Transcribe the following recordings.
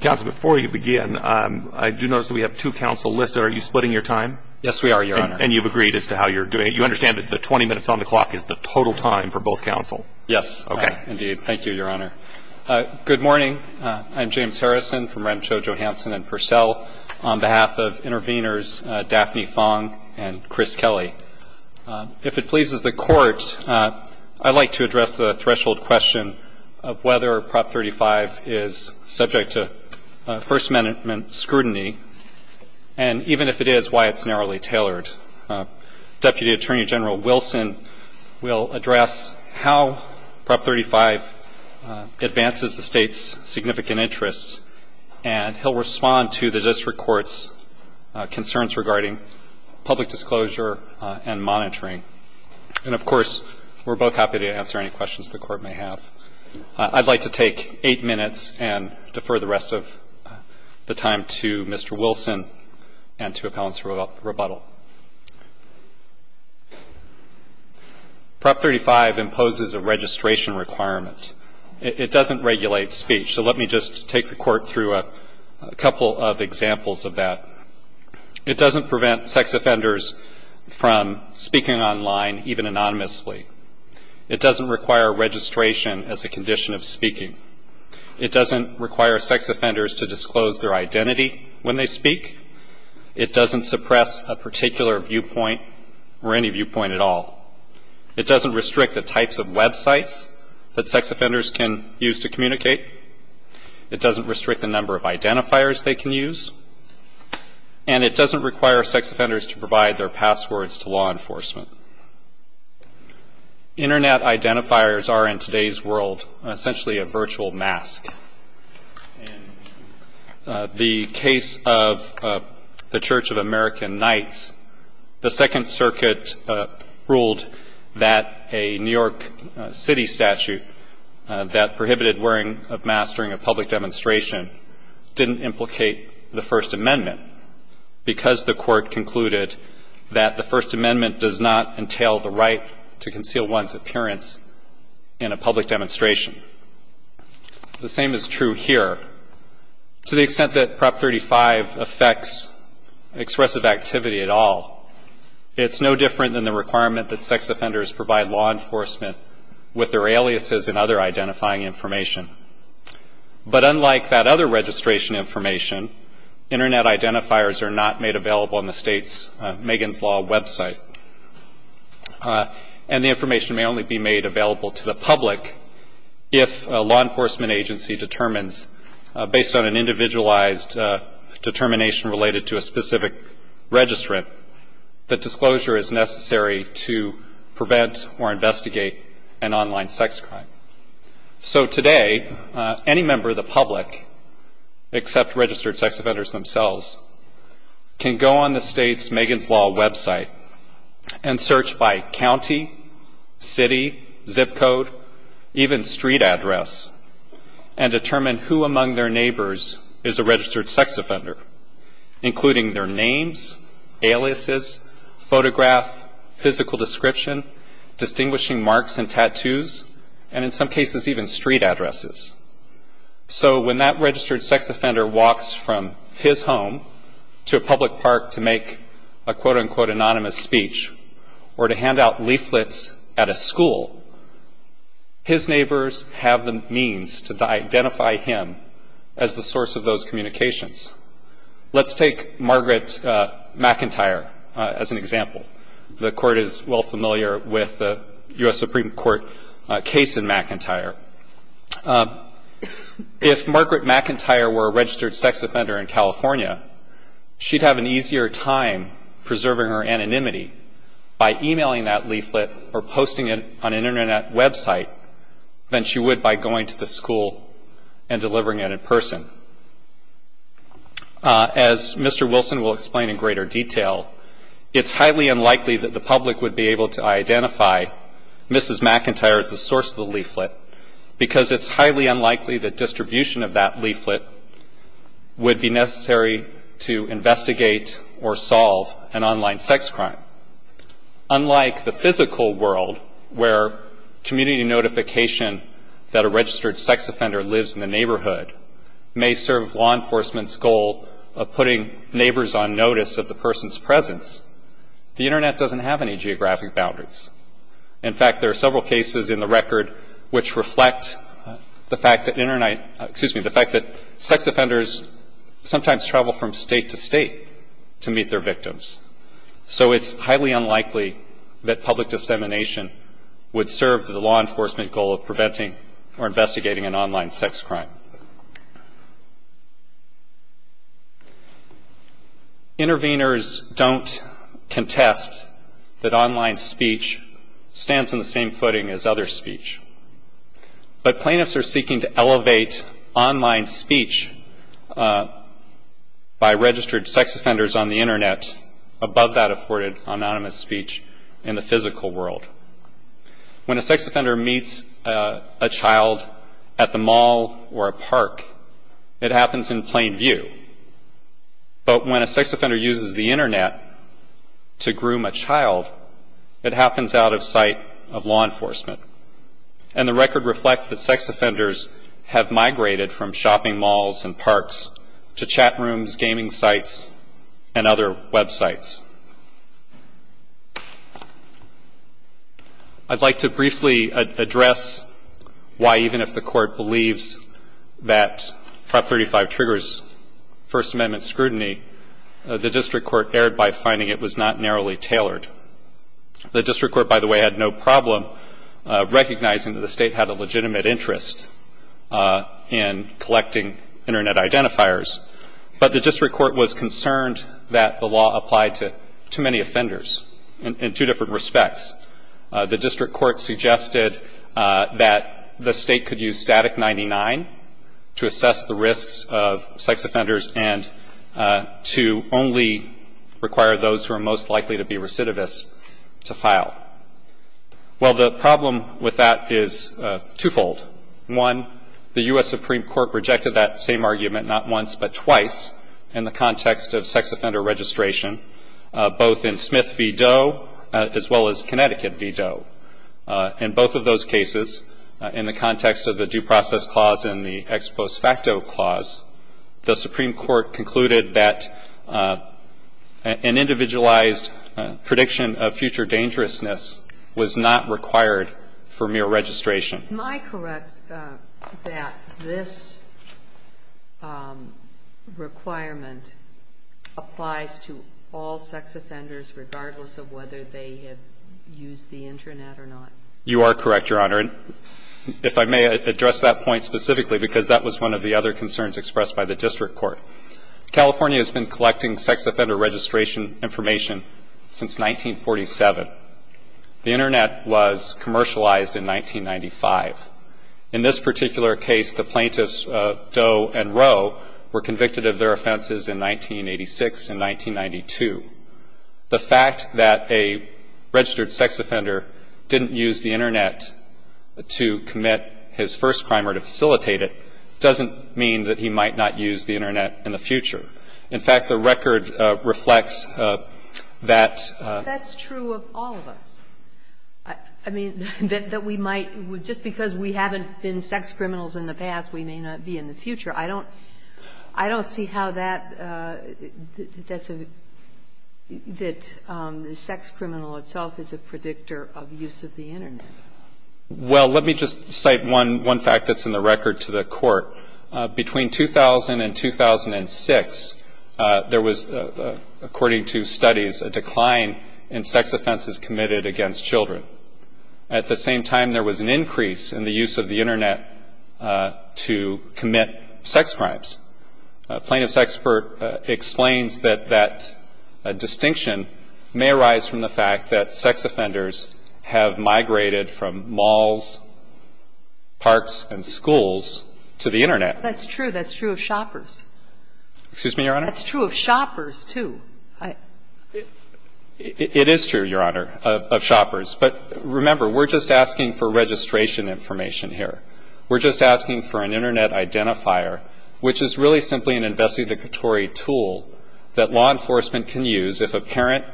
Counsel, before you begin, I do notice that we have two counsel listed. Are you splitting your time? Yes, we are, Your Honor. And you've agreed as to how you're doing it? You understand that the 20 minutes on the clock is the total time for both counsel? Yes. Okay. Indeed. Thank you, Your Honor. Good morning. I'm James Harrison from Renshaw, Johansson & Purcell. On behalf of intervenors Daphne Fong and Chris Kelly, if it pleases the Court, I'd like to address the threshold question of whether Prop 35 is subject to First Amendment scrutiny, and even if it is, why it's narrowly tailored. Deputy Attorney General Wilson will address how Prop 35 advances the State's significant interests, and he'll respond to the District Court's concerns regarding public disclosure and monitoring. And, of course, we're both happy to answer any questions the Court may have. I'd like to take 8 minutes and defer the rest of the time to Mr. Wilson and to appellants for rebuttal. Prop 35 imposes a registration requirement. It doesn't regulate speech. So let me just take the Court through a couple of examples of that. It doesn't prevent sex offenders from speaking online, even anonymously. It doesn't require registration as a condition of speaking. It doesn't require sex offenders to disclose their identity when they speak. It doesn't suppress a particular viewpoint or any viewpoint at all. It doesn't restrict the types of websites that sex offenders can use to communicate. It doesn't restrict the number of identifiers they can use. And it doesn't require sex offenders to provide their passwords to law enforcement. Internet identifiers are, in today's world, essentially a virtual mask. The case of the Church of American Knights, the Second Circuit ruled that a New York City statute that prohibited wearing of masks during a public demonstration didn't implicate the First Amendment because the Court concluded that the First Amendment does not entail the right to conceal one's appearance in a public demonstration. The same is true here. To the extent that Prop 35 affects expressive activity at all, it's no different than the requirement that sex offenders provide law enforcement with their aliases and other identifying information. But unlike that other registration information, internet identifiers are not made available on the state's Megan's Law website. And the information may only be made available to the public if a law enforcement agency determines, based on an individualized determination related to a specific registrant, that disclosure is necessary to prevent or investigate an online sex crime. So today, any member of the public, except registered sex offenders themselves, can go on the state's Megan's Law website and search by county, city, zip code, even street address, and determine who among their neighbors is a registered sex offender, including their names, aliases, photograph, physical description, distinguishing marks and tattoos, and in some cases, even street addresses. So when that registered sex offender walks from his home to a public park to make a, quote, unquote, to identify him as the source of those communications. Let's take Margaret McIntyre as an example. The Court is well familiar with the U.S. Supreme Court case in McIntyre. If Margaret McIntyre were a registered sex offender in California, she'd have an easier time preserving her anonymity by emailing that leaflet or posting it on an Internet website than she would by going to the school and delivering it in person. As Mr. Wilson will explain in greater detail, it's highly unlikely that the public would be able to identify Mrs. McIntyre as the source of the leaflet, because it's highly unlikely that distribution of that leaflet would be necessary to investigate or solve an online sex crime. Unlike the physical world where community notification that a registered sex offender lives in the neighborhood may serve law enforcement's goal of putting neighbors on notice of the person's presence, the Internet doesn't have any geographic boundaries. In fact, there are several cases in the record which reflect the fact that Internet, excuse me, the fact that sex offenders sometimes travel from state to state to meet their victims. So it's highly unlikely that public dissemination would serve the law enforcement goal of preventing or investigating an online sex crime. Interveners don't contest that online speech stands on the same footing as other speech. But plaintiffs are seeking to elevate online speech by registered sex offenders on the Internet above that afforded anonymous speech in the physical world. When a sex offender meets a child at the mall or a park, it happens in plain view. But when a sex offender uses the Internet to groom a child, it happens out of sight of law enforcement. And the record reflects that sex offenders have migrated from shopping malls and parks to chat rooms, gaming sites, and other Web sites. I'd like to briefly address why even if the Court believes that Prop. 35 triggers First Amendment scrutiny, the district court erred by finding it was not narrowly tailored. The district court, by the way, had no problem recognizing that the State had a legitimate interest in collecting Internet identifiers. But the district court was concerned that the law applied to too many offenders in two different respects. The district court suggested that the State could use static 99 to assess the risks of sex offenders and to only require those who are most likely to be recidivists to file. Well, the problem with that is twofold. One, the U.S. Supreme Court rejected that same argument not once but twice in the context of sex offender registration, both in Smith v. Doe as well as Connecticut v. Doe. In both of those cases, in the context of the due process clause and the ex post facto clause, the Supreme Court concluded that an individualized prediction of future dangerousness was not required for mere registration. Am I correct that this requirement applies to all sex offenders regardless of whether they have used the Internet or not? You are correct, Your Honor. And if I may address that point specifically, because that was one of the other concerns expressed by the district court. California has been collecting sex offender registration information since 1947. The Internet was commercialized in 1995. In this particular case, the plaintiffs, Doe and Rowe, were convicted of their offenses in 1986 and 1992. The fact that a registered sex offender didn't use the Internet to commit his first crime or to facilitate it doesn't mean that he might not use the Internet in the future. In fact, the record reflects that. That's true of all of us. I mean, that we might, just because we haven't been sex criminals in the past, we may not be in the future. I don't see how that's a, that the sex criminal itself is a predictor of use of the Internet. Well, let me just cite one fact that's in the record to the Court. Between 2000 and 2006, there was, according to studies, a decline in sex offenses committed against children. At the same time, there was an increase in the use of the Internet to commit sex crimes. A plaintiff's expert explains that that distinction may arise from the fact that sex I don't see how that's a predictor of use of the Internet. That's true. That's true of shoppers. Excuse me, Your Honor? That's true of shoppers, too. It is true, Your Honor, of shoppers. But remember, we're just asking for registration information here. We're just asking for an Internet identifier, which is really simply an investigatory tool that law enforcement can use if a parent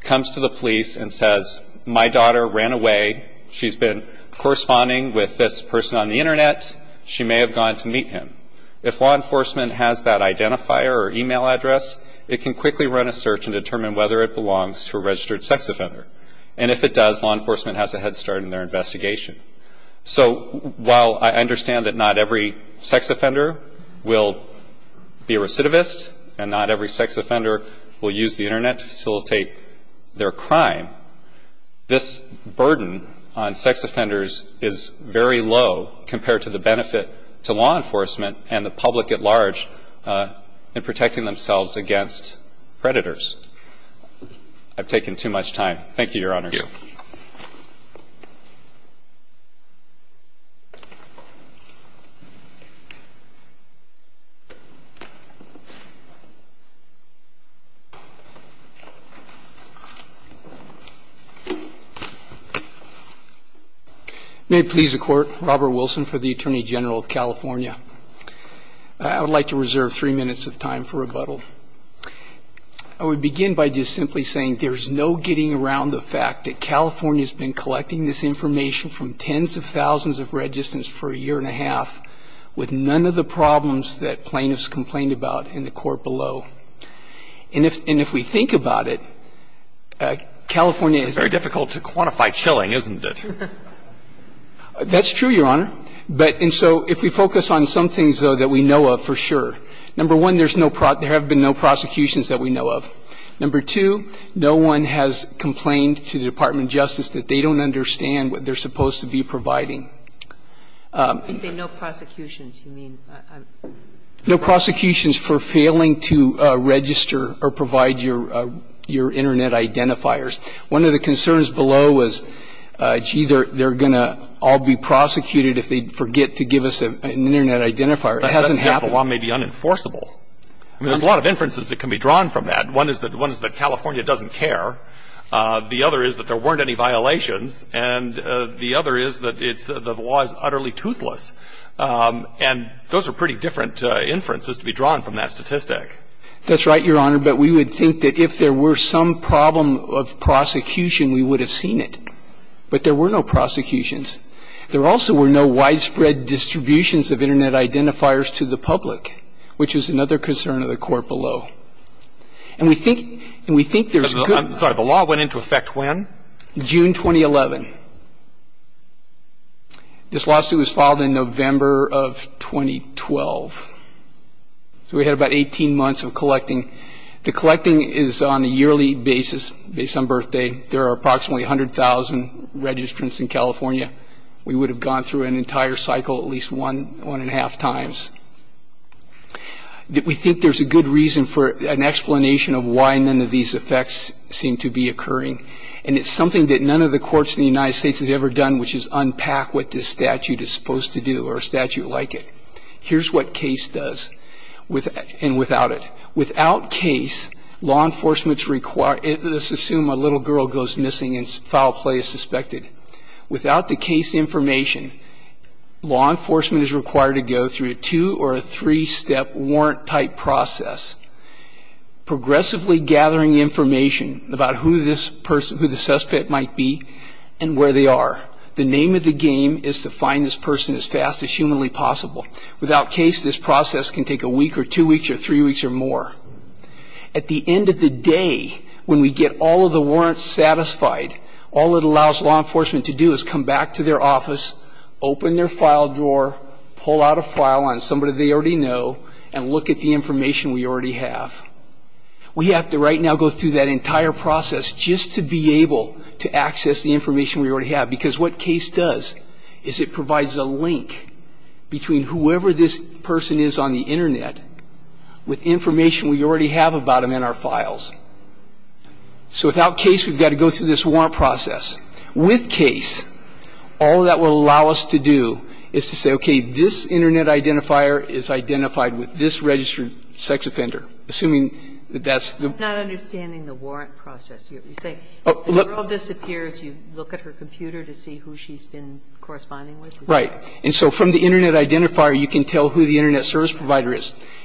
comes to the police and says, my daughter ran away. She's been corresponding with this person on the Internet. She may have gone to meet him. If law enforcement has that identifier or e-mail address, it can quickly run a search and determine whether it belongs to a registered sex offender. And if it does, law enforcement has a head start in their investigation. So while I understand that not every sex offender will be a recidivist and not every sex offender will use the Internet to facilitate their crime, this burden on sex offenders is very low compared to the benefit to law enforcement and the public at large in protecting themselves against predators. I've taken too much time. Thank you, Your Honor. Thank you. May it please the Court. Robert Wilson for the Attorney General of California. I would like to reserve three minutes of time for rebuttal. I would begin by just simply saying there's no getting around the fact that California has been collecting this information from tens of thousands of registrants for a year and a half with none of the problems that plaintiffs complained about in the Court below. And if we think about it, California is very difficult to quantify chilling, isn't it? That's true, Your Honor. And so if we focus on some things, though, that we know of for sure, number one, there have been no prosecutions that we know of. Number two, no one has complained to the Department of Justice that they don't understand what they're supposed to be providing. When you say no prosecutions, you mean? No prosecutions for failing to register or provide your Internet identifiers. One of the concerns below was, gee, they're going to all be prosecuted if they forget to give us an Internet identifier. It hasn't happened. It's just that the law is utterly toothless. And there's a lot of inferences that can be drawn from that. One is that California doesn't care. The other is that there weren't any violations. And the other is that it's the law is utterly toothless. And those are pretty different inferences to be drawn from that statistic. That's right, Your Honor. But we would think that if there were some problem of prosecution, we would have seen But there were no prosecutions. There also were no widespread distributions of Internet identifiers to the public, which is another concern of the Court below. And we think there's good I'm sorry. The law went into effect when? June 2011. This lawsuit was filed in November of 2012. So we had about 18 months of collecting. The collecting is on a yearly basis based on birthday. There are approximately 100,000 registrants in California. We would have gone through an entire cycle at least one, one and a half times. We think there's a good reason for an explanation of why none of these effects seem to be occurring. And it's something that none of the courts in the United States has ever done, which is unpack what this statute is supposed to do or a statute like it. Here's what case does and without it. Without case, law enforcement's required Let's assume a little girl goes missing and foul play is suspected. Without the case information, law enforcement is required to go through a two or a three-step warrant-type process, progressively gathering information about who this person, who the suspect might be and where they are. The name of the game is to find this person as fast as humanly possible. Without case, this process can take a week or two weeks or three weeks or more. At the end of the day, when we get all of the warrants satisfied, all it allows law enforcement to do is come back to their office, open their file drawer, pull out a file on somebody they already know and look at the information we already have. We have to right now go through that entire process just to be able to access the information we already have because what case does is it provides a link between whoever this person is on the Internet with information we already have about them in our files. So without case, we've got to go through this warrant process. With case, all that will allow us to do is to say, okay, this Internet identifier is identified with this registered sex offender, assuming that that's the one. I'm not understanding the warrant process. You say the girl disappears, you look at her computer to see who she's been corresponding with? Right. And so from the Internet identifier, you can tell who the Internet service provider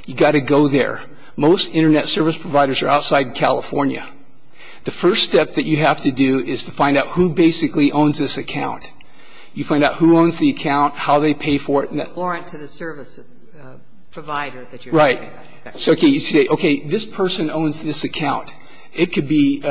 You've got to go there. Most Internet service providers are outside of California. The first step that you have to do is to find out who basically owns this account. You find out who owns the account, how they pay for it. The warrant to the service provider that you're talking about. Right. So you say, okay, this person owns this account. It could be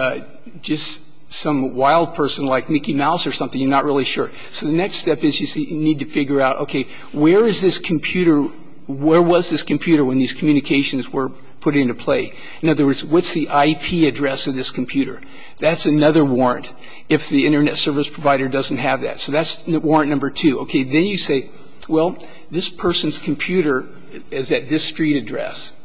just some wild person like Mickey Mouse or something, you're not really sure. So the next step is you need to figure out, okay, where is this computer, where was this computer when these communications were put into play? In other words, what's the IP address of this computer? That's another warrant if the Internet service provider doesn't have that. So that's warrant number two. Okay. Then you say, well, this person's computer is at this street address.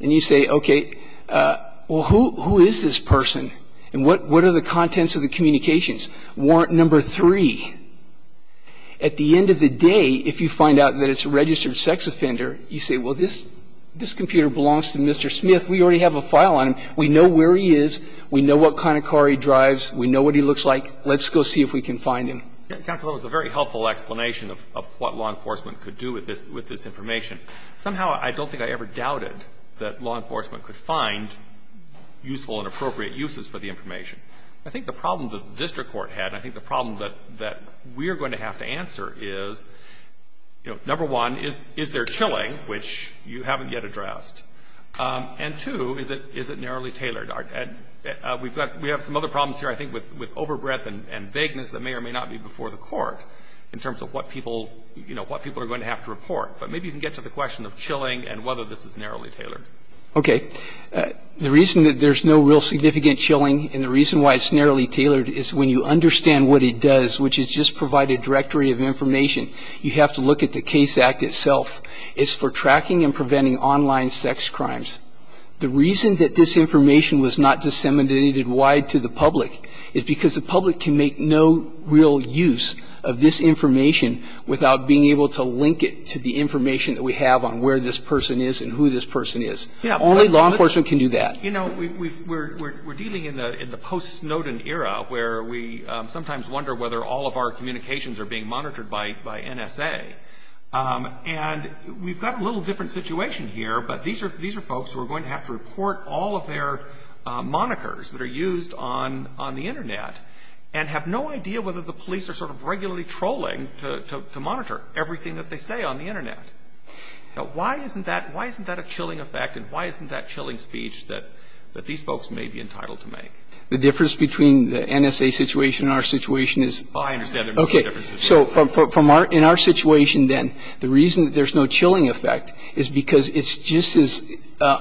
And you say, okay, well, who is this person? And what are the contents of the communications? Warrant number three. At the end of the day, if you find out that it's a registered sex offender, you say, well, this computer belongs to Mr. Smith. We already have a file on him. We know where he is. We know what kind of car he drives. We know what he looks like. Let's go see if we can find him. Counsel, that was a very helpful explanation of what law enforcement could do with this information. Somehow I don't think I ever doubted that law enforcement could find useful and appropriate uses for the information. I think the problem that the district court had, I think the problem that we are going to have to answer is, you know, number one, is there chilling, which you haven't yet addressed? And two, is it narrowly tailored? We have some other problems here, I think, with overbreadth and vagueness that may or may not be before the court in terms of what people, you know, what people are going to have to report. But maybe you can get to the question of chilling and whether this is narrowly tailored. Okay. The reason that there's no real significant chilling and the reason why it's narrowly tailored is when you understand what it does, which is just provide a directory of information, you have to look at the case act itself. It's for tracking and preventing online sex crimes. The reason that this information was not disseminated wide to the public is because the public can make no real use of this information without being able to link it to the information that we have on where this person is and who this person is. Yeah. Only law enforcement can do that. You know, we're dealing in the post-Snowden era where we sometimes wonder whether all of our communications are being monitored by NSA. And we've got a little different situation here, but these are folks who are going to have to report all of their monikers that are used on the Internet and have no idea whether the police are sort of regularly trolling to monitor everything that they say on the Internet. Now, why isn't that why isn't that a chilling effect and why isn't that chilling speech that these folks may be entitled to make? The difference between the NSA situation and our situation is. Oh, I understand. Okay. So in our situation, then, the reason that there's no chilling effect is because it's just as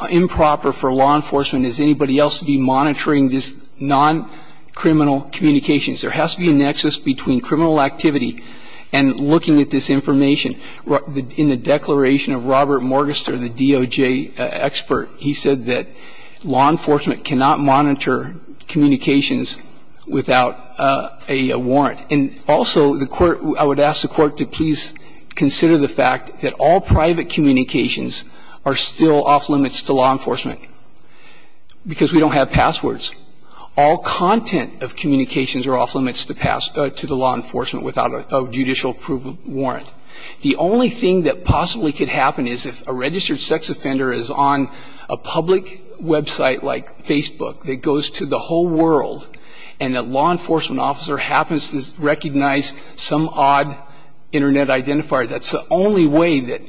improper for law enforcement as anybody else to be monitoring this non-criminal communications. There has to be a nexus between criminal activity and looking at this information and looking at this information. In the declaration of Robert Morgenstern, the DOJ expert, he said that law enforcement cannot monitor communications without a warrant. And also, the Court – I would ask the Court to please consider the fact that all private communications are still off limits to law enforcement because we don't have passwords. All content of communications are off limits to pass – to the law enforcement without a judicial approval warrant. The only thing that possibly could happen is if a registered sex offender is on a public website like Facebook that goes to the whole world and a law enforcement officer happens to recognize some odd Internet identifier, that's the only way that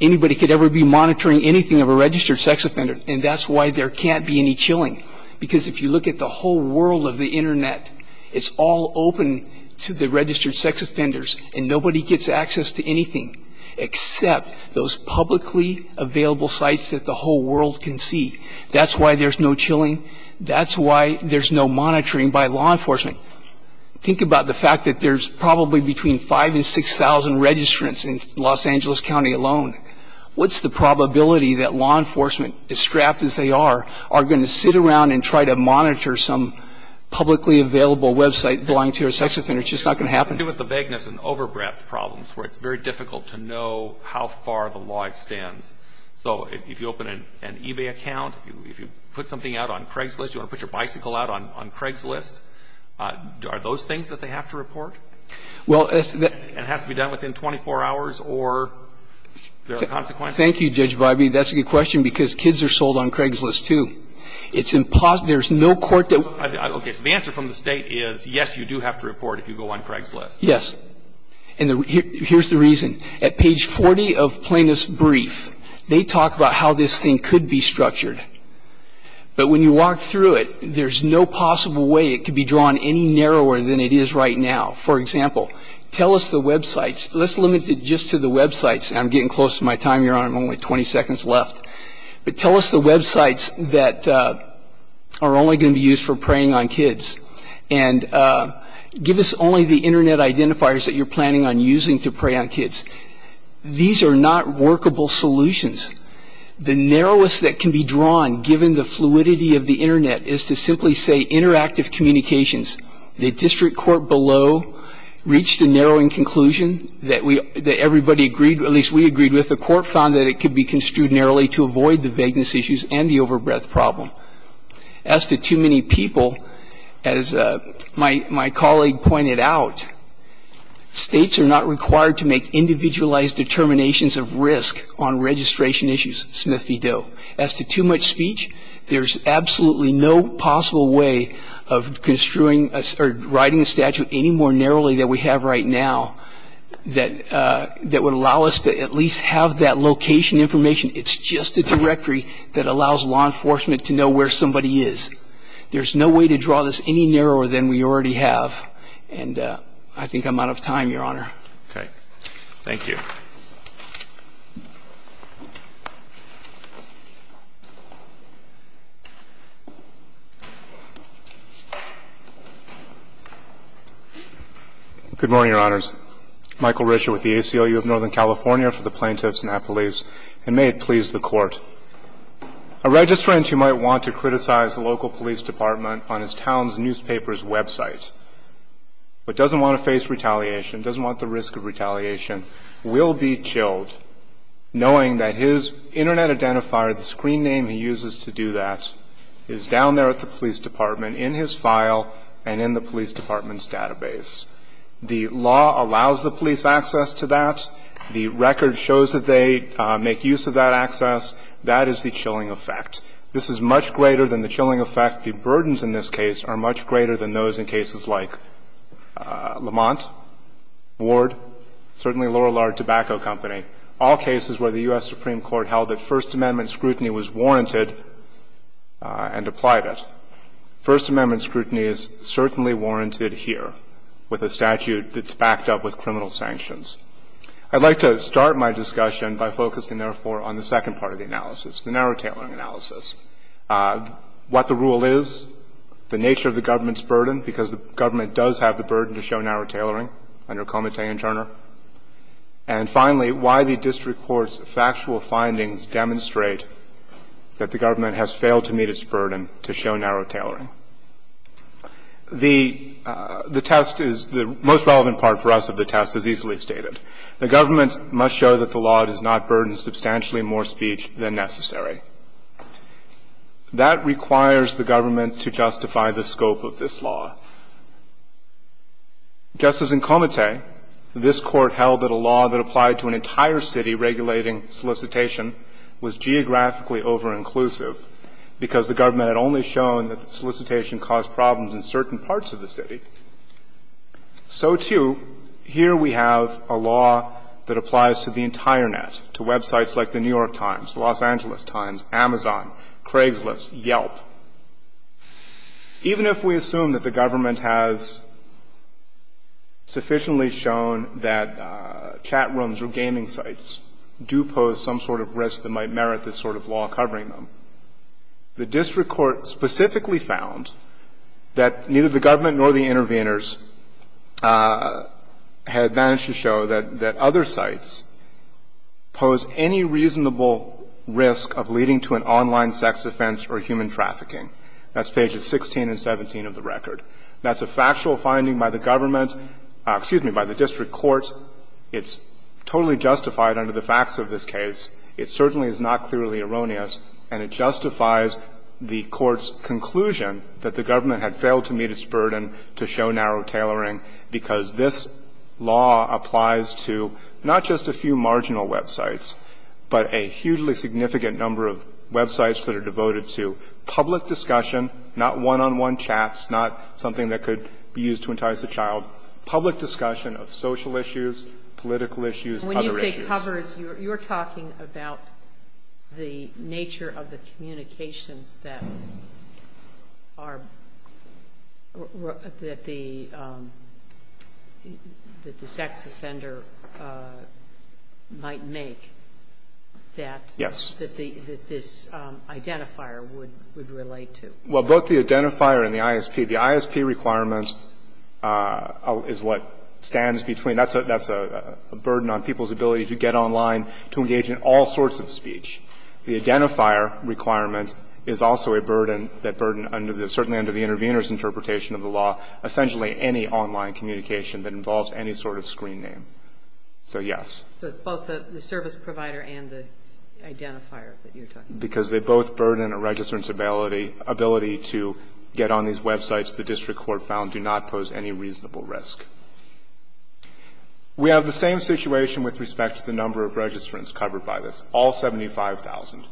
anybody could ever be monitoring anything of a registered sex offender. And that's why there can't be any chilling. Because if you look at the whole world of the Internet, it's all open to the registered sex offenders and nobody gets access to anything except those publicly available sites that the whole world can see. That's why there's no chilling. That's why there's no monitoring by law enforcement. Think about the fact that there's probably between 5,000 and 6,000 registrants in Los Angeles County alone. What's the probability that law enforcement, as scrapped as they are, are going to sit around and try to monitor some publicly available website belonging to a sex offender? It's just not going to happen. It has to do with the vagueness and overbreadth problems where it's very difficult to know how far the law extends. So if you open an eBay account, if you put something out on Craigslist, you want to put your bicycle out on Craigslist, are those things that they have to report? And it has to be done within 24 hours, or there are consequences? Thank you, Judge Biby. That's a good question, because kids are sold on Craigslist, too. It's impossible. There's no court that ---- Okay. So the answer from the State is, yes, you do have to report if you go on Craigslist. Yes. And here's the reason. At page 40 of Plaintiff's brief, they talk about how this thing could be structured. But when you walk through it, there's no possible way it could be drawn any narrower than it is right now. For example, tell us the websites. Let's limit it just to the websites. I'm getting close to my time, Your Honor. I'm only 20 seconds left. But tell us the websites that are only going to be used for preying on kids. And give us only the Internet identifiers that you're planning on using to prey on kids. These are not workable solutions. The narrowest that can be drawn, given the fluidity of the Internet, is to simply say, The district court below reached a narrowing conclusion that everybody agreed, at least we agreed with. The court found that it could be construed narrowly to avoid the vagueness issues and the overbreadth problem. As to too many people, as my colleague pointed out, states are not required to make individualized determinations of risk on registration issues, Smith v. Doe. As to too much speech, there's absolutely no possible way of writing a statute any more narrowly than we have right now that would allow us to at least have that location information. It's just a directory that allows law enforcement to know where somebody is. There's no way to draw this any narrower than we already have. And I think I'm out of time, Your Honor. Okay. Thank you. Good morning, Your Honors. Michael Richer with the ACLU of Northern California for the Plaintiffs and Appellees, and may it please the Court. A registrant who might want to criticize the local police department on his town's newspaper's website, but doesn't want to face retaliation, doesn't want the risk of retaliation, will be chilled knowing that his Internet identifier, the screen name he uses to do that, is down there at the police department, in his file and in the police department's database. The law allows the police access to that. The record shows that they make use of that access. That is the chilling effect. This is much greater than the chilling effect. In fact, the burdens in this case are much greater than those in cases like Lamont, Ward, certainly Lorillard Tobacco Company, all cases where the U.S. Supreme Court held that First Amendment scrutiny was warranted and applied it. First Amendment scrutiny is certainly warranted here with a statute that's backed up with criminal sanctions. I'd like to start my discussion by focusing, therefore, on the second part of the analysis, the narrow-tailoring analysis. What the rule is, the nature of the government's burden, because the government does have the burden to show narrow tailoring under Comittee and Turner, and finally, why the district court's factual findings demonstrate that the government has failed to meet its burden to show narrow tailoring. The test is the most relevant part for us of the test is easily stated. The government must show that the law does not burden substantially more speech than necessary. That requires the government to justify the scope of this law. Just as in Comittee, this Court held that a law that applied to an entire city regulating solicitation was geographically over-inclusive because the government had only shown that solicitation caused problems in certain parts of the city, so, too, here we have a law that applies to the entire net, to websites like the New York Times, the Los Angeles Times, Amazon, Craigslist, Yelp. Even if we assume that the government has sufficiently shown that chat rooms or gaming sites do pose some sort of risk that might merit this sort of law covering them, the district court specifically found that neither the government nor the intervenors had managed to show that other sites pose any reasonable risk of leading to an online sex offense or human trafficking. That's pages 16 and 17 of the record. That's a factual finding by the government's – excuse me, by the district court. It's totally justified under the facts of this case. It certainly is not clearly erroneous, and it justifies the Court's conclusion that the government had failed to meet its burden to show narrow tailoring because this law applies to not just a few marginal websites, but a hugely significant number of websites that are devoted to public discussion, not one-on-one chats, not something that could be used to entice a child, public discussion of social issues, political issues, other issues. Sotomayor, you're talking about the nature of the communications that are – that the sex offender might make that this identifier would relate to. Well, both the identifier and the ISP. The ISP requirements is what stands between. That's a burden on people's ability to get online, to engage in all sorts of speech. The identifier requirement is also a burden that burden under the – certainly under the intervener's interpretation of the law, essentially any online communication that involves any sort of screen name. So, yes. So it's both the service provider and the identifier that you're talking about. Because they both burden a registrant's ability to get on these websites the district court found do not pose any reasonable risk. We have the same situation with respect to the number of registrants covered by this, all 75,000.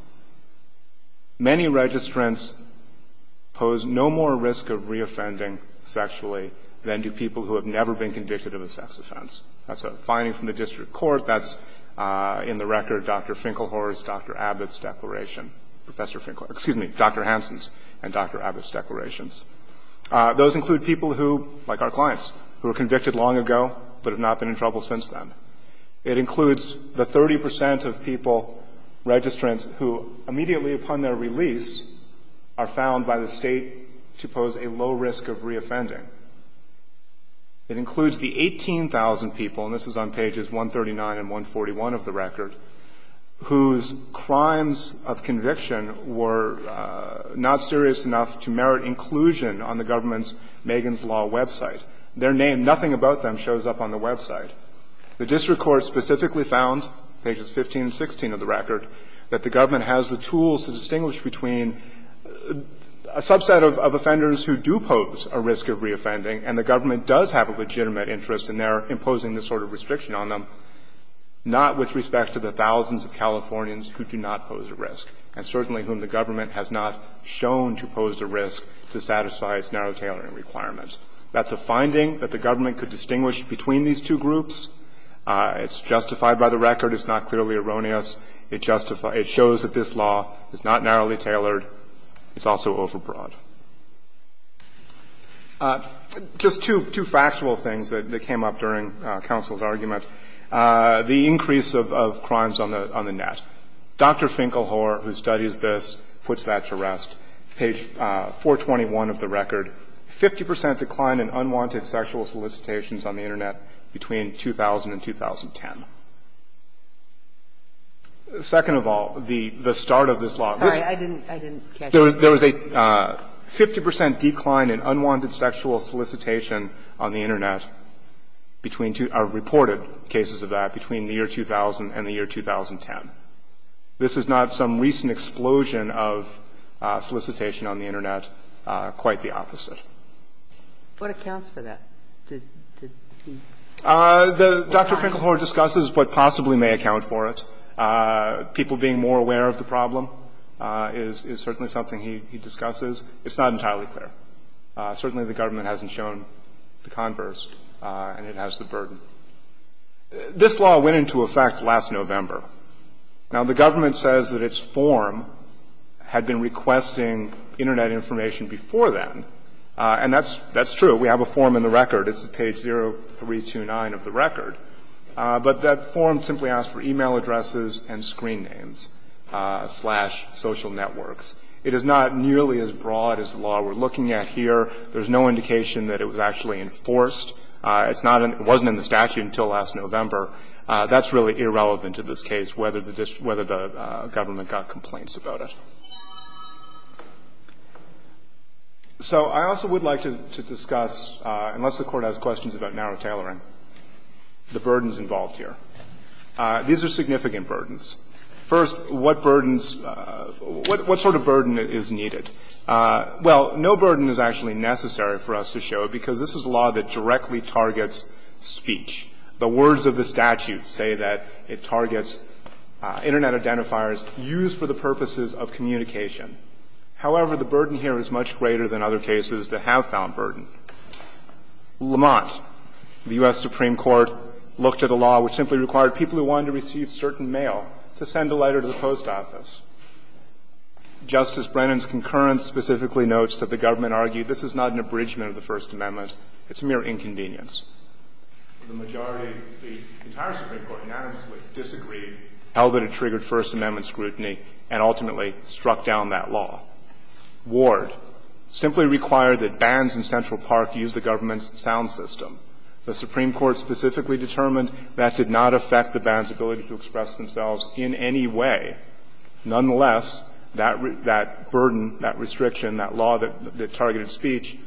Many registrants pose no more risk of reoffending sexually than do people who have never been convicted of a sex offense. That's a finding from the district court. That's in the record Dr. Finkelhor's, Dr. Abbott's declaration, Professor Finkelhor's – excuse me, Dr. Hansen's and Dr. Abbott's declarations. Those include people who, like our clients, who were convicted long ago but have not been in trouble since then. It includes the 30 percent of people, registrants, who immediately upon their release are found by the State to pose a low risk of reoffending. It includes the 18,000 people, and this is on pages 139 and 141 of the record, whose crimes of conviction were not serious enough to merit inclusion on the government's Megan's Law website. Their name, nothing about them, shows up on the website. The district court specifically found, pages 15 and 16 of the record, that the government has the tools to distinguish between a subset of offenders who do pose a risk of reoffending and the government does have a legitimate interest in imposing this sort of restriction on them, not with respect to the thousands of Californians who do not pose a risk and certainly whom the government has not shown to pose a risk to satisfy its narrow tailoring requirements. That's a finding that the government could distinguish between these two groups. It's justified by the record. It's not clearly erroneous. It shows that this law is not narrowly tailored. It's also overbroad. Just two factual things that came up during counsel's argument. The increase of crimes on the net. Dr. Finkelhor, who studies this, puts that to rest. Page 421 of the record, 50 percent decline in unwanted sexual solicitations on the Internet between 2000 and 2010. Second of all, the start of this law. There was a 50 percent decline in unwanted sexual solicitation on the Internet between two reported cases of that between the year 2000 and the year 2010. This is not some recent explosion of solicitation on the Internet, quite the opposite. What accounts for that? Dr. Finkelhor discusses what possibly may account for it. People being more aware of the problem is certainly something he discusses. It's not entirely clear. Certainly the government hasn't shown the converse, and it has the burden. This law went into effect last November. Now, the government says that its form had been requesting Internet information before then. And that's true. So we have a form in the record. It's at page 0329 of the record. But that form simply asks for e-mail addresses and screen names slash social networks. It is not nearly as broad as the law we're looking at here. There's no indication that it was actually enforced. It's not in the statute until last November. That's really irrelevant to this case, whether the government got complaints about it. So I also would like to discuss, unless the Court has questions about narrow tailoring, the burdens involved here. These are significant burdens. First, what burdens – what sort of burden is needed? Well, no burden is actually necessary for us to show, because this is a law that directly targets speech. The words of the statute say that it targets Internet identifiers used for the purposes of communication. However, the burden here is much greater than other cases that have found burden. Lamont, the U.S. Supreme Court, looked at a law which simply required people who wanted to receive certain mail to send a letter to the post office. Justice Brennan's concurrence specifically notes that the government argued this is not an abridgment of the First Amendment. It's a mere inconvenience. to receive certain mail to send a letter to the post office to be subject to First Amendment scrutiny and ultimately struck down that law. Ward simply required that bands in Central Park use the government's sound system. The Supreme Court specifically determined that did not affect the band's ability to express themselves in any way. Nonetheless, that burden, that restriction, that law that targeted speech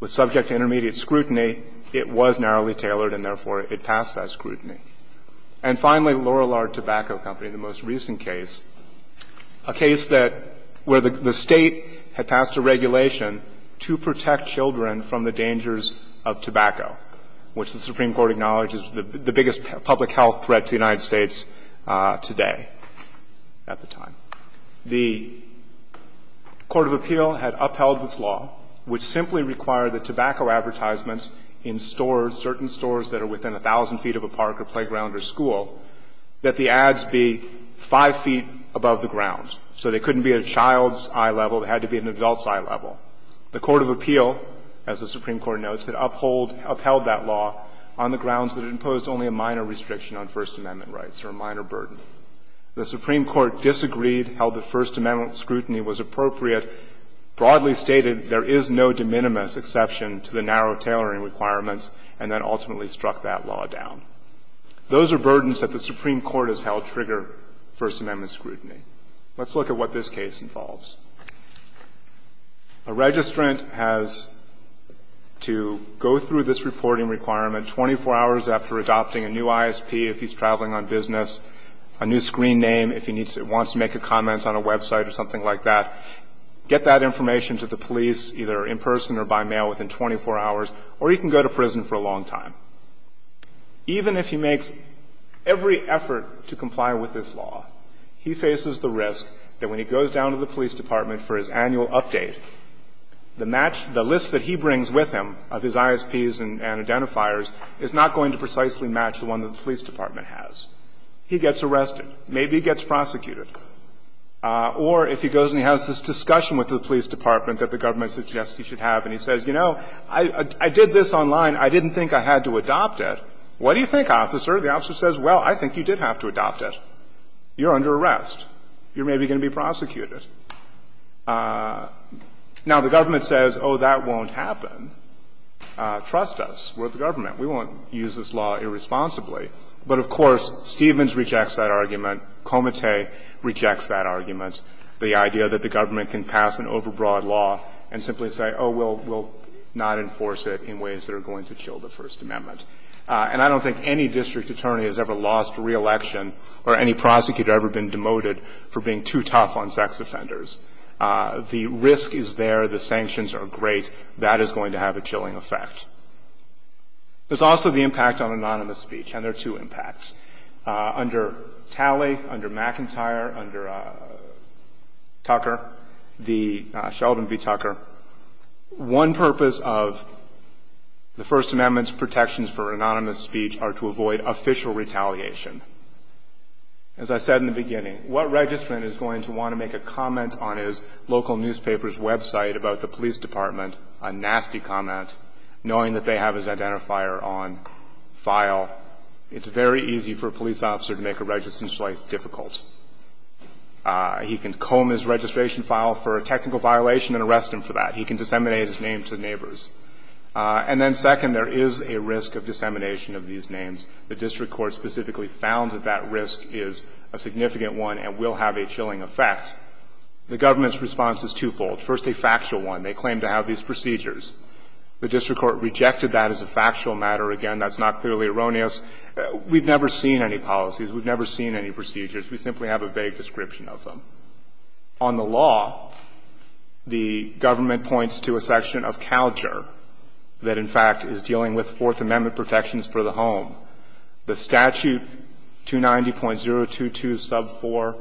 was subject to intermediate scrutiny. It was narrowly tailored and, therefore, it passed that scrutiny. And finally, Lorillard Tobacco Company, the most recent case, a case that – where the State had passed a regulation to protect children from the dangers of tobacco, which the Supreme Court acknowledges the biggest public health threat to the United States at the time, the court of appeal had upheld this law, which simply required the tobacco advertisements in stores, certain stores that are within 1,000 feet of a park or playground or school, that the ads be 5 feet above the ground. So they couldn't be at a child's eye level. They had to be at an adult's eye level. The court of appeal, as the Supreme Court notes, had upheld that law on the grounds that it imposed only a minor restriction on First Amendment rights or a minor burden. The Supreme Court disagreed, held that First Amendment scrutiny was appropriate, broadly stated there is no de minimis exception to the narrow tailoring requirements, and then ultimately struck that law down. Those are burdens that the Supreme Court has held trigger First Amendment scrutiny. Let's look at what this case involves. A registrant has to go through this reporting requirement 24 hours after adopting a new ISP if he's traveling on business, a new screen name if he wants to make a comment on a website or something like that, get that information to the police either in person or by mail within 24 hours, or he can go to prison for a long time. Even if he makes every effort to comply with this law, he faces the risk that when he goes down to the police department for his annual update, the list that he brings with him of his ISPs and identifiers is not going to precisely match the one that the police department has. He gets arrested. Maybe he gets prosecuted. Or if he goes and he has this discussion with the police department that the government suggests he should have, and he says, you know, I did this online. I didn't think I had to adopt it. What do you think, officer? The officer says, well, I think you did have to adopt it. You're under arrest. You're maybe going to be prosecuted. Now, the government says, oh, that won't happen. Trust us. We're the government. We won't use this law irresponsibly. But, of course, Stevens rejects that argument. Comittee rejects that argument, the idea that the government can pass an overbroad law and simply say, oh, we'll not enforce it in ways that are going to chill the First Amendment. And I don't think any district attorney has ever lost a reelection or any prosecutor has ever been demoted for being too tough on sex offenders. The risk is there. The sanctions are great. That is going to have a chilling effect. There's also the impact on anonymous speech, and there are two impacts. Under Talley, under McIntyre, under Tucker, the Sheldon v. Tucker, one purpose of the First Amendment's protections for anonymous speech are to avoid official retaliation. As I said in the beginning, what registrant is going to want to make a comment on his local newspaper's website about the police department, a nasty comment, knowing that they have his identifier on file? It's very easy for a police officer to make a registration like this difficult. He can comb his registration file for a technical violation and arrest him for that. He can disseminate his name to neighbors. And then, second, there is a risk of dissemination of these names. The district court specifically found that that risk is a significant one and will have a chilling effect. The government's response is twofold. First, a factual one. They claim to have these procedures. The district court rejected that as a factual matter. Again, that's not clearly erroneous. We've never seen any policies. We've never seen any procedures. We simply have a vague description of them. On the law, the government points to a section of CalGER that, in fact, is dealing with Fourth Amendment protections for the home. The statute, 290.022, sub 4,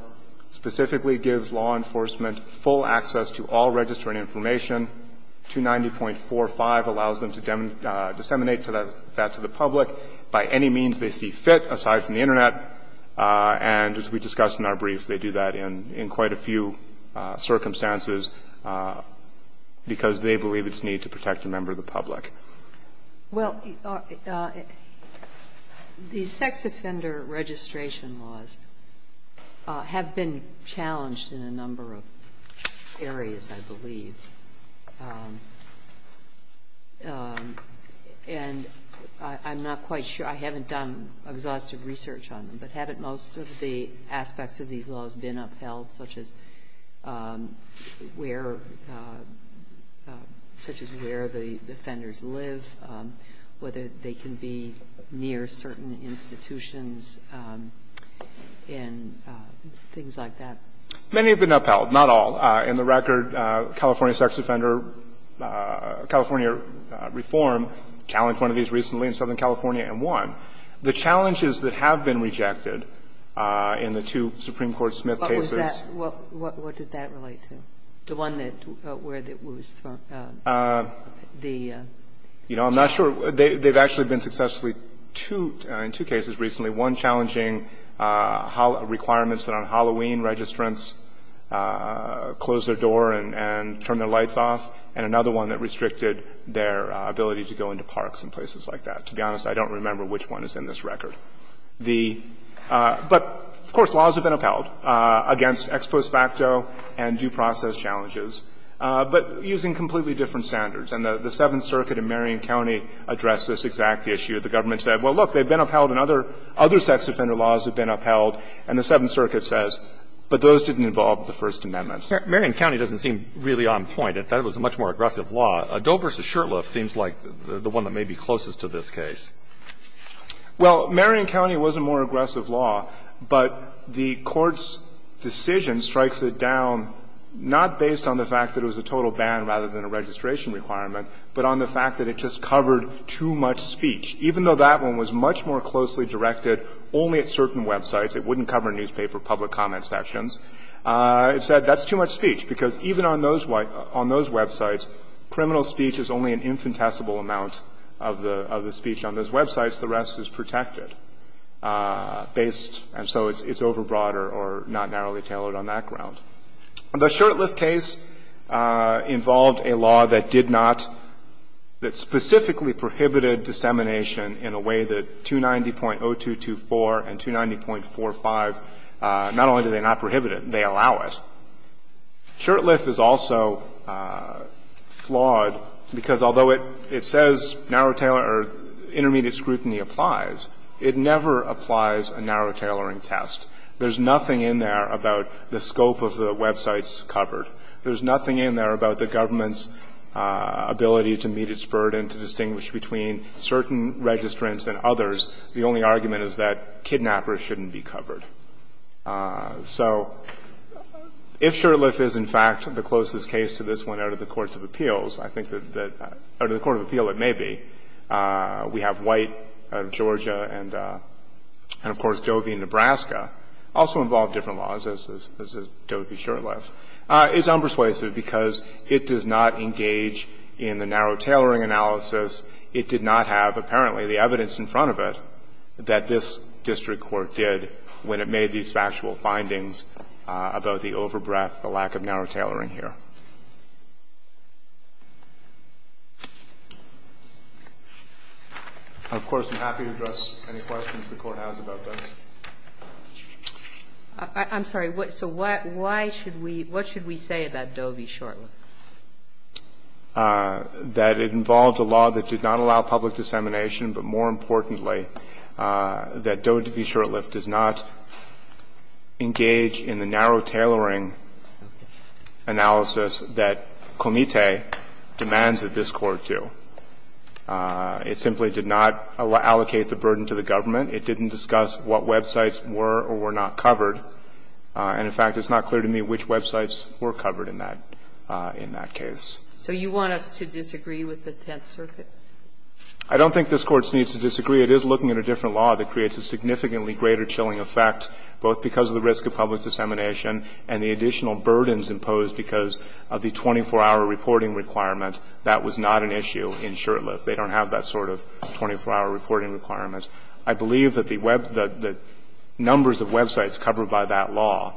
specifically gives law enforcement full access to all registering information. 290.45 allows them to disseminate that to the public by any means they see fit, aside from the Internet, and as we discussed in our brief, they do that in quite a few circumstances because they believe it's need to protect a member of the public. Well, the sex offender registration laws have been challenged in a number of areas, I believe. And I'm not quite sure. I haven't done exhaustive research on them, but haven't most of the aspects of these laws been upheld, such as where the offenders live, whether they can be near certain institutions, and things like that? Many have been upheld, not all. In the record, California sex offender, California reform challenged one of these recently in Southern California and won. The challenges that have been rejected in the two Supreme Court Smith cases. What was that? What did that relate to? The one that, where it was the? You know, I'm not sure. They've actually been successfully, in two cases recently, one challenging requirements that on Halloween registrants close their door and turn their lights off, and another one that restricted their ability to go into parks and places like that. To be honest, I don't remember which one is in this record. The – but, of course, laws have been upheld against ex post facto and due process challenges, but using completely different standards. And the Seventh Circuit in Marion County addressed this exact issue. The government said, well, look, they've been upheld and other, other sex offender laws have been upheld. And the Seventh Circuit says, but those didn't involve the First Amendment. Marrion County doesn't seem really on point. I thought it was a much more aggressive law. Addoe v. Shurtleff seems like the one that may be closest to this case. Well, Marion County was a more aggressive law, but the Court's decision strikes it down not based on the fact that it was a total ban rather than a registration requirement, but on the fact that it just covered too much speech. Even though that one was much more closely directed only at certain websites, it wouldn't cover newspaper public comment sections, it said that's too much speech, because even on those websites, criminal speech is only an infinitesimal amount of the speech on those websites. The rest is protected based, and so it's overbroader or not narrowly tailored on that ground. The Shurtleff case involved a law that did not, that specifically prohibited dissemination in a way that 290.0224 and 290.45, not only do they not prohibit it, they allow it. Shurtleff is also flawed, because although it says narrow tailor or intermediate scrutiny applies, it never applies a narrow tailoring test. There's nothing in there about the scope of the websites covered. There's nothing in there about the government's ability to meet its burden, to distinguish between certain registrants and others. The only argument is that kidnappers shouldn't be covered. So if Shurtleff is, in fact, the closest case to this one out of the courts of appeals, I think that out of the court of appeal it may be. We have White out of Georgia and, of course, Dovey, Nebraska, also involve different laws, as does Dovey-Shurtleff. It's unpersuasive because it does not engage in the narrow tailoring analysis. It did not have, apparently, the evidence in front of it that this district court did when it made these factual findings about the overbreath, the lack of narrow tailoring here. Of course, I'm happy to address any questions the Court has about this. I'm sorry. So what should we say about Dovey-Shurtleff? That it involves a law that did not allow public dissemination, but more importantly, that Dovey-Shurtleff does not engage in the narrow tailoring analysis that Comite demands that this Court do. It simply did not allocate the burden to the government. It didn't discuss what websites were or were not covered. And, in fact, it's not clear to me which websites were covered in that case. So you want us to disagree with the Tenth Circuit? I don't think this Court needs to disagree. It is looking at a different law that creates a significantly greater chilling effect, both because of the risk of public dissemination and the additional burdens imposed because of the 24-hour reporting requirement. That was not an issue in Shurtleff. They don't have that sort of 24-hour reporting requirements. I believe that the numbers of websites covered by that law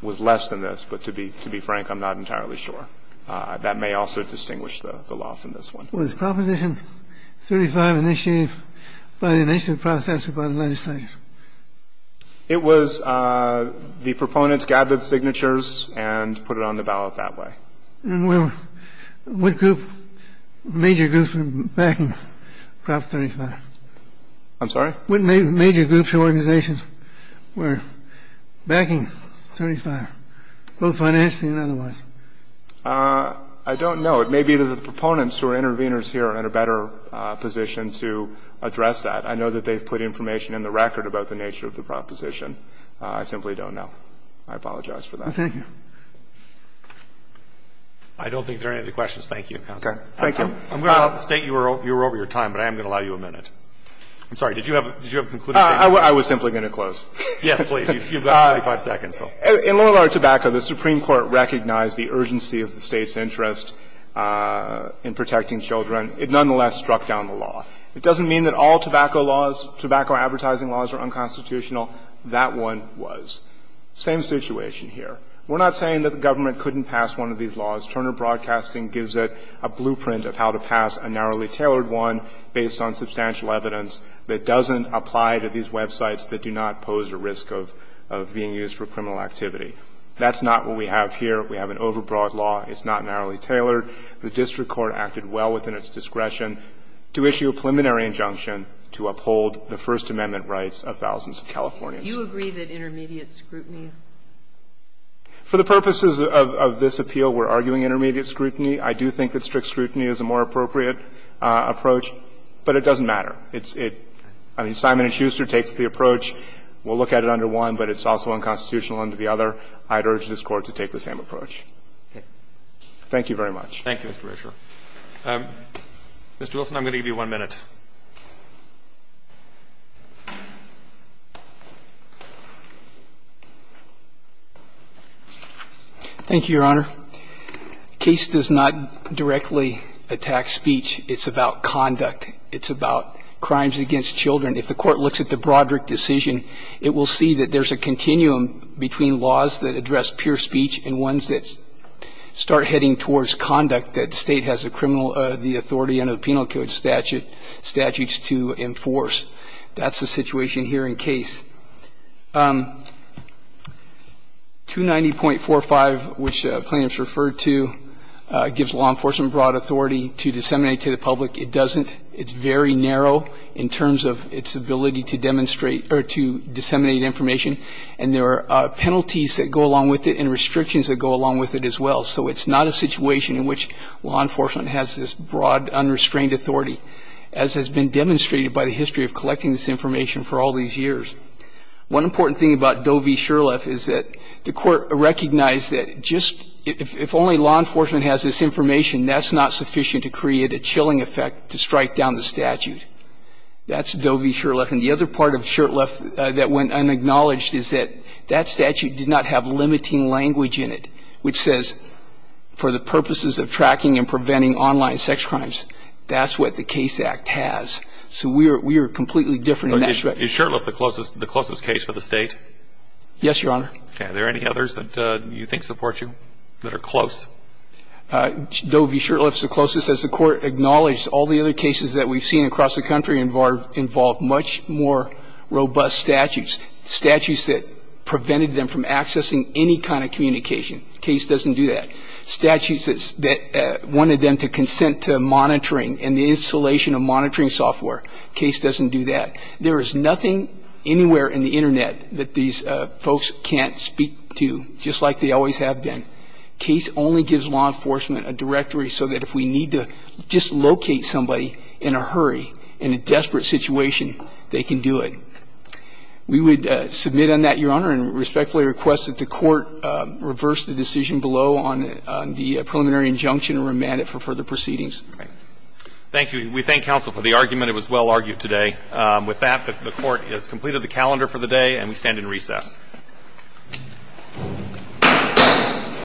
was less than this. But to be frank, I'm not entirely sure. That may also distinguish the law from this one. Was Proposition 35 initiated by the initial process or by the legislature? It was the proponents gathered signatures and put it on the ballot that way. And what group, major groups were backing Prop 35? I'm sorry? What major groups or organizations were backing 35, both financially and otherwise? I don't know. It may be that the proponents who are interveners here are in a better position to address that. I know that they've put information in the record about the nature of the proposition. I simply don't know. I apologize for that. Thank you. I don't think there are any other questions. Thank you, counsel. Thank you. I'm going to state you were over your time, but I am going to allow you a minute. I'm sorry. Did you have a concluding statement? I was simply going to close. Yes, please. You've got 45 seconds. In Long Island Tobacco, the Supreme Court recognized the urgency of the State's interest in protecting children. It nonetheless struck down the law. It doesn't mean that all tobacco laws, tobacco advertising laws are unconstitutional. That one was. Same situation here. We're not saying that the government couldn't pass one of these laws. Turner Broadcasting gives it a blueprint of how to pass a narrowly tailored one based on substantial evidence that doesn't apply to these websites that do not pose a risk of being used for criminal activity. That's not what we have here. We have an overbroad law. It's not narrowly tailored. The district court acted well within its discretion to issue a preliminary injunction to uphold the First Amendment rights of thousands of Californians. Do you agree that intermediate scrutiny? For the purposes of this appeal, we're arguing intermediate scrutiny. I do think that strict scrutiny is a more appropriate approach. But it doesn't matter. It's – I mean, Simon & Schuster takes the approach. We'll look at it under one, but it's also unconstitutional under the other. I'd urge this Court to take the same approach. Thank you very much. Thank you, Mr. Rasher. Mr. Wilson, I'm going to give you one minute. Thank you, Your Honor. The case does not directly attack speech. It's about conduct. It's about crimes against children. If the Court looks at the Broderick decision, it will see that there's a continuum between laws that address pure speech and ones that start heading towards conduct that the State has the criminal – the authority under the Penal Code statutes to enforce. That's the situation here in case. 290.45, which plaintiffs referred to, gives law enforcement broad authority to disseminate to the public. It doesn't. It's very narrow in terms of its ability to demonstrate – or to disseminate information. And there are penalties that go along with it and restrictions that go along with it as well. So it's not a situation in which law enforcement has this broad, unrestrained authority, as has been demonstrated by the history of collecting this information for all these years. One important thing about Doe v. Shurtleff is that the Court recognized that just – if only law enforcement has this information, that's not sufficient to create a chilling effect to strike down the statute. That's Doe v. Shurtleff. And the other part of Shurtleff that went unacknowledged is that that statute did not have limiting language in it, which says, for the purposes of tracking and preventing online sex crimes, that's what the Case Act has. So we are – we are completely different in that respect. Is Shurtleff the closest – the closest case for the State? Yes, Your Honor. Okay. Are there any others that you think support you that are close? Doe v. Shurtleff is the closest. As the Court acknowledged, all the other cases that we've seen across the country involve much more robust statutes, statutes that prevented them from accessing any kind of communication. Case doesn't do that. Statutes that wanted them to consent to monitoring and the installation of monitoring software. Case doesn't do that. There is nothing anywhere in the Internet that these folks can't speak to, just like they always have been. Case only gives law enforcement a directory so that if we need to dislocate somebody in a hurry, in a desperate situation, they can do it. We would submit on that, Your Honor, and respectfully request that the Court reverse the decision below on the preliminary injunction and remand it for further proceedings. Okay. Thank you. We thank counsel for the argument. It was well argued today. With that, the Court has completed the calendar for the day, and we stand in recess. Thank you.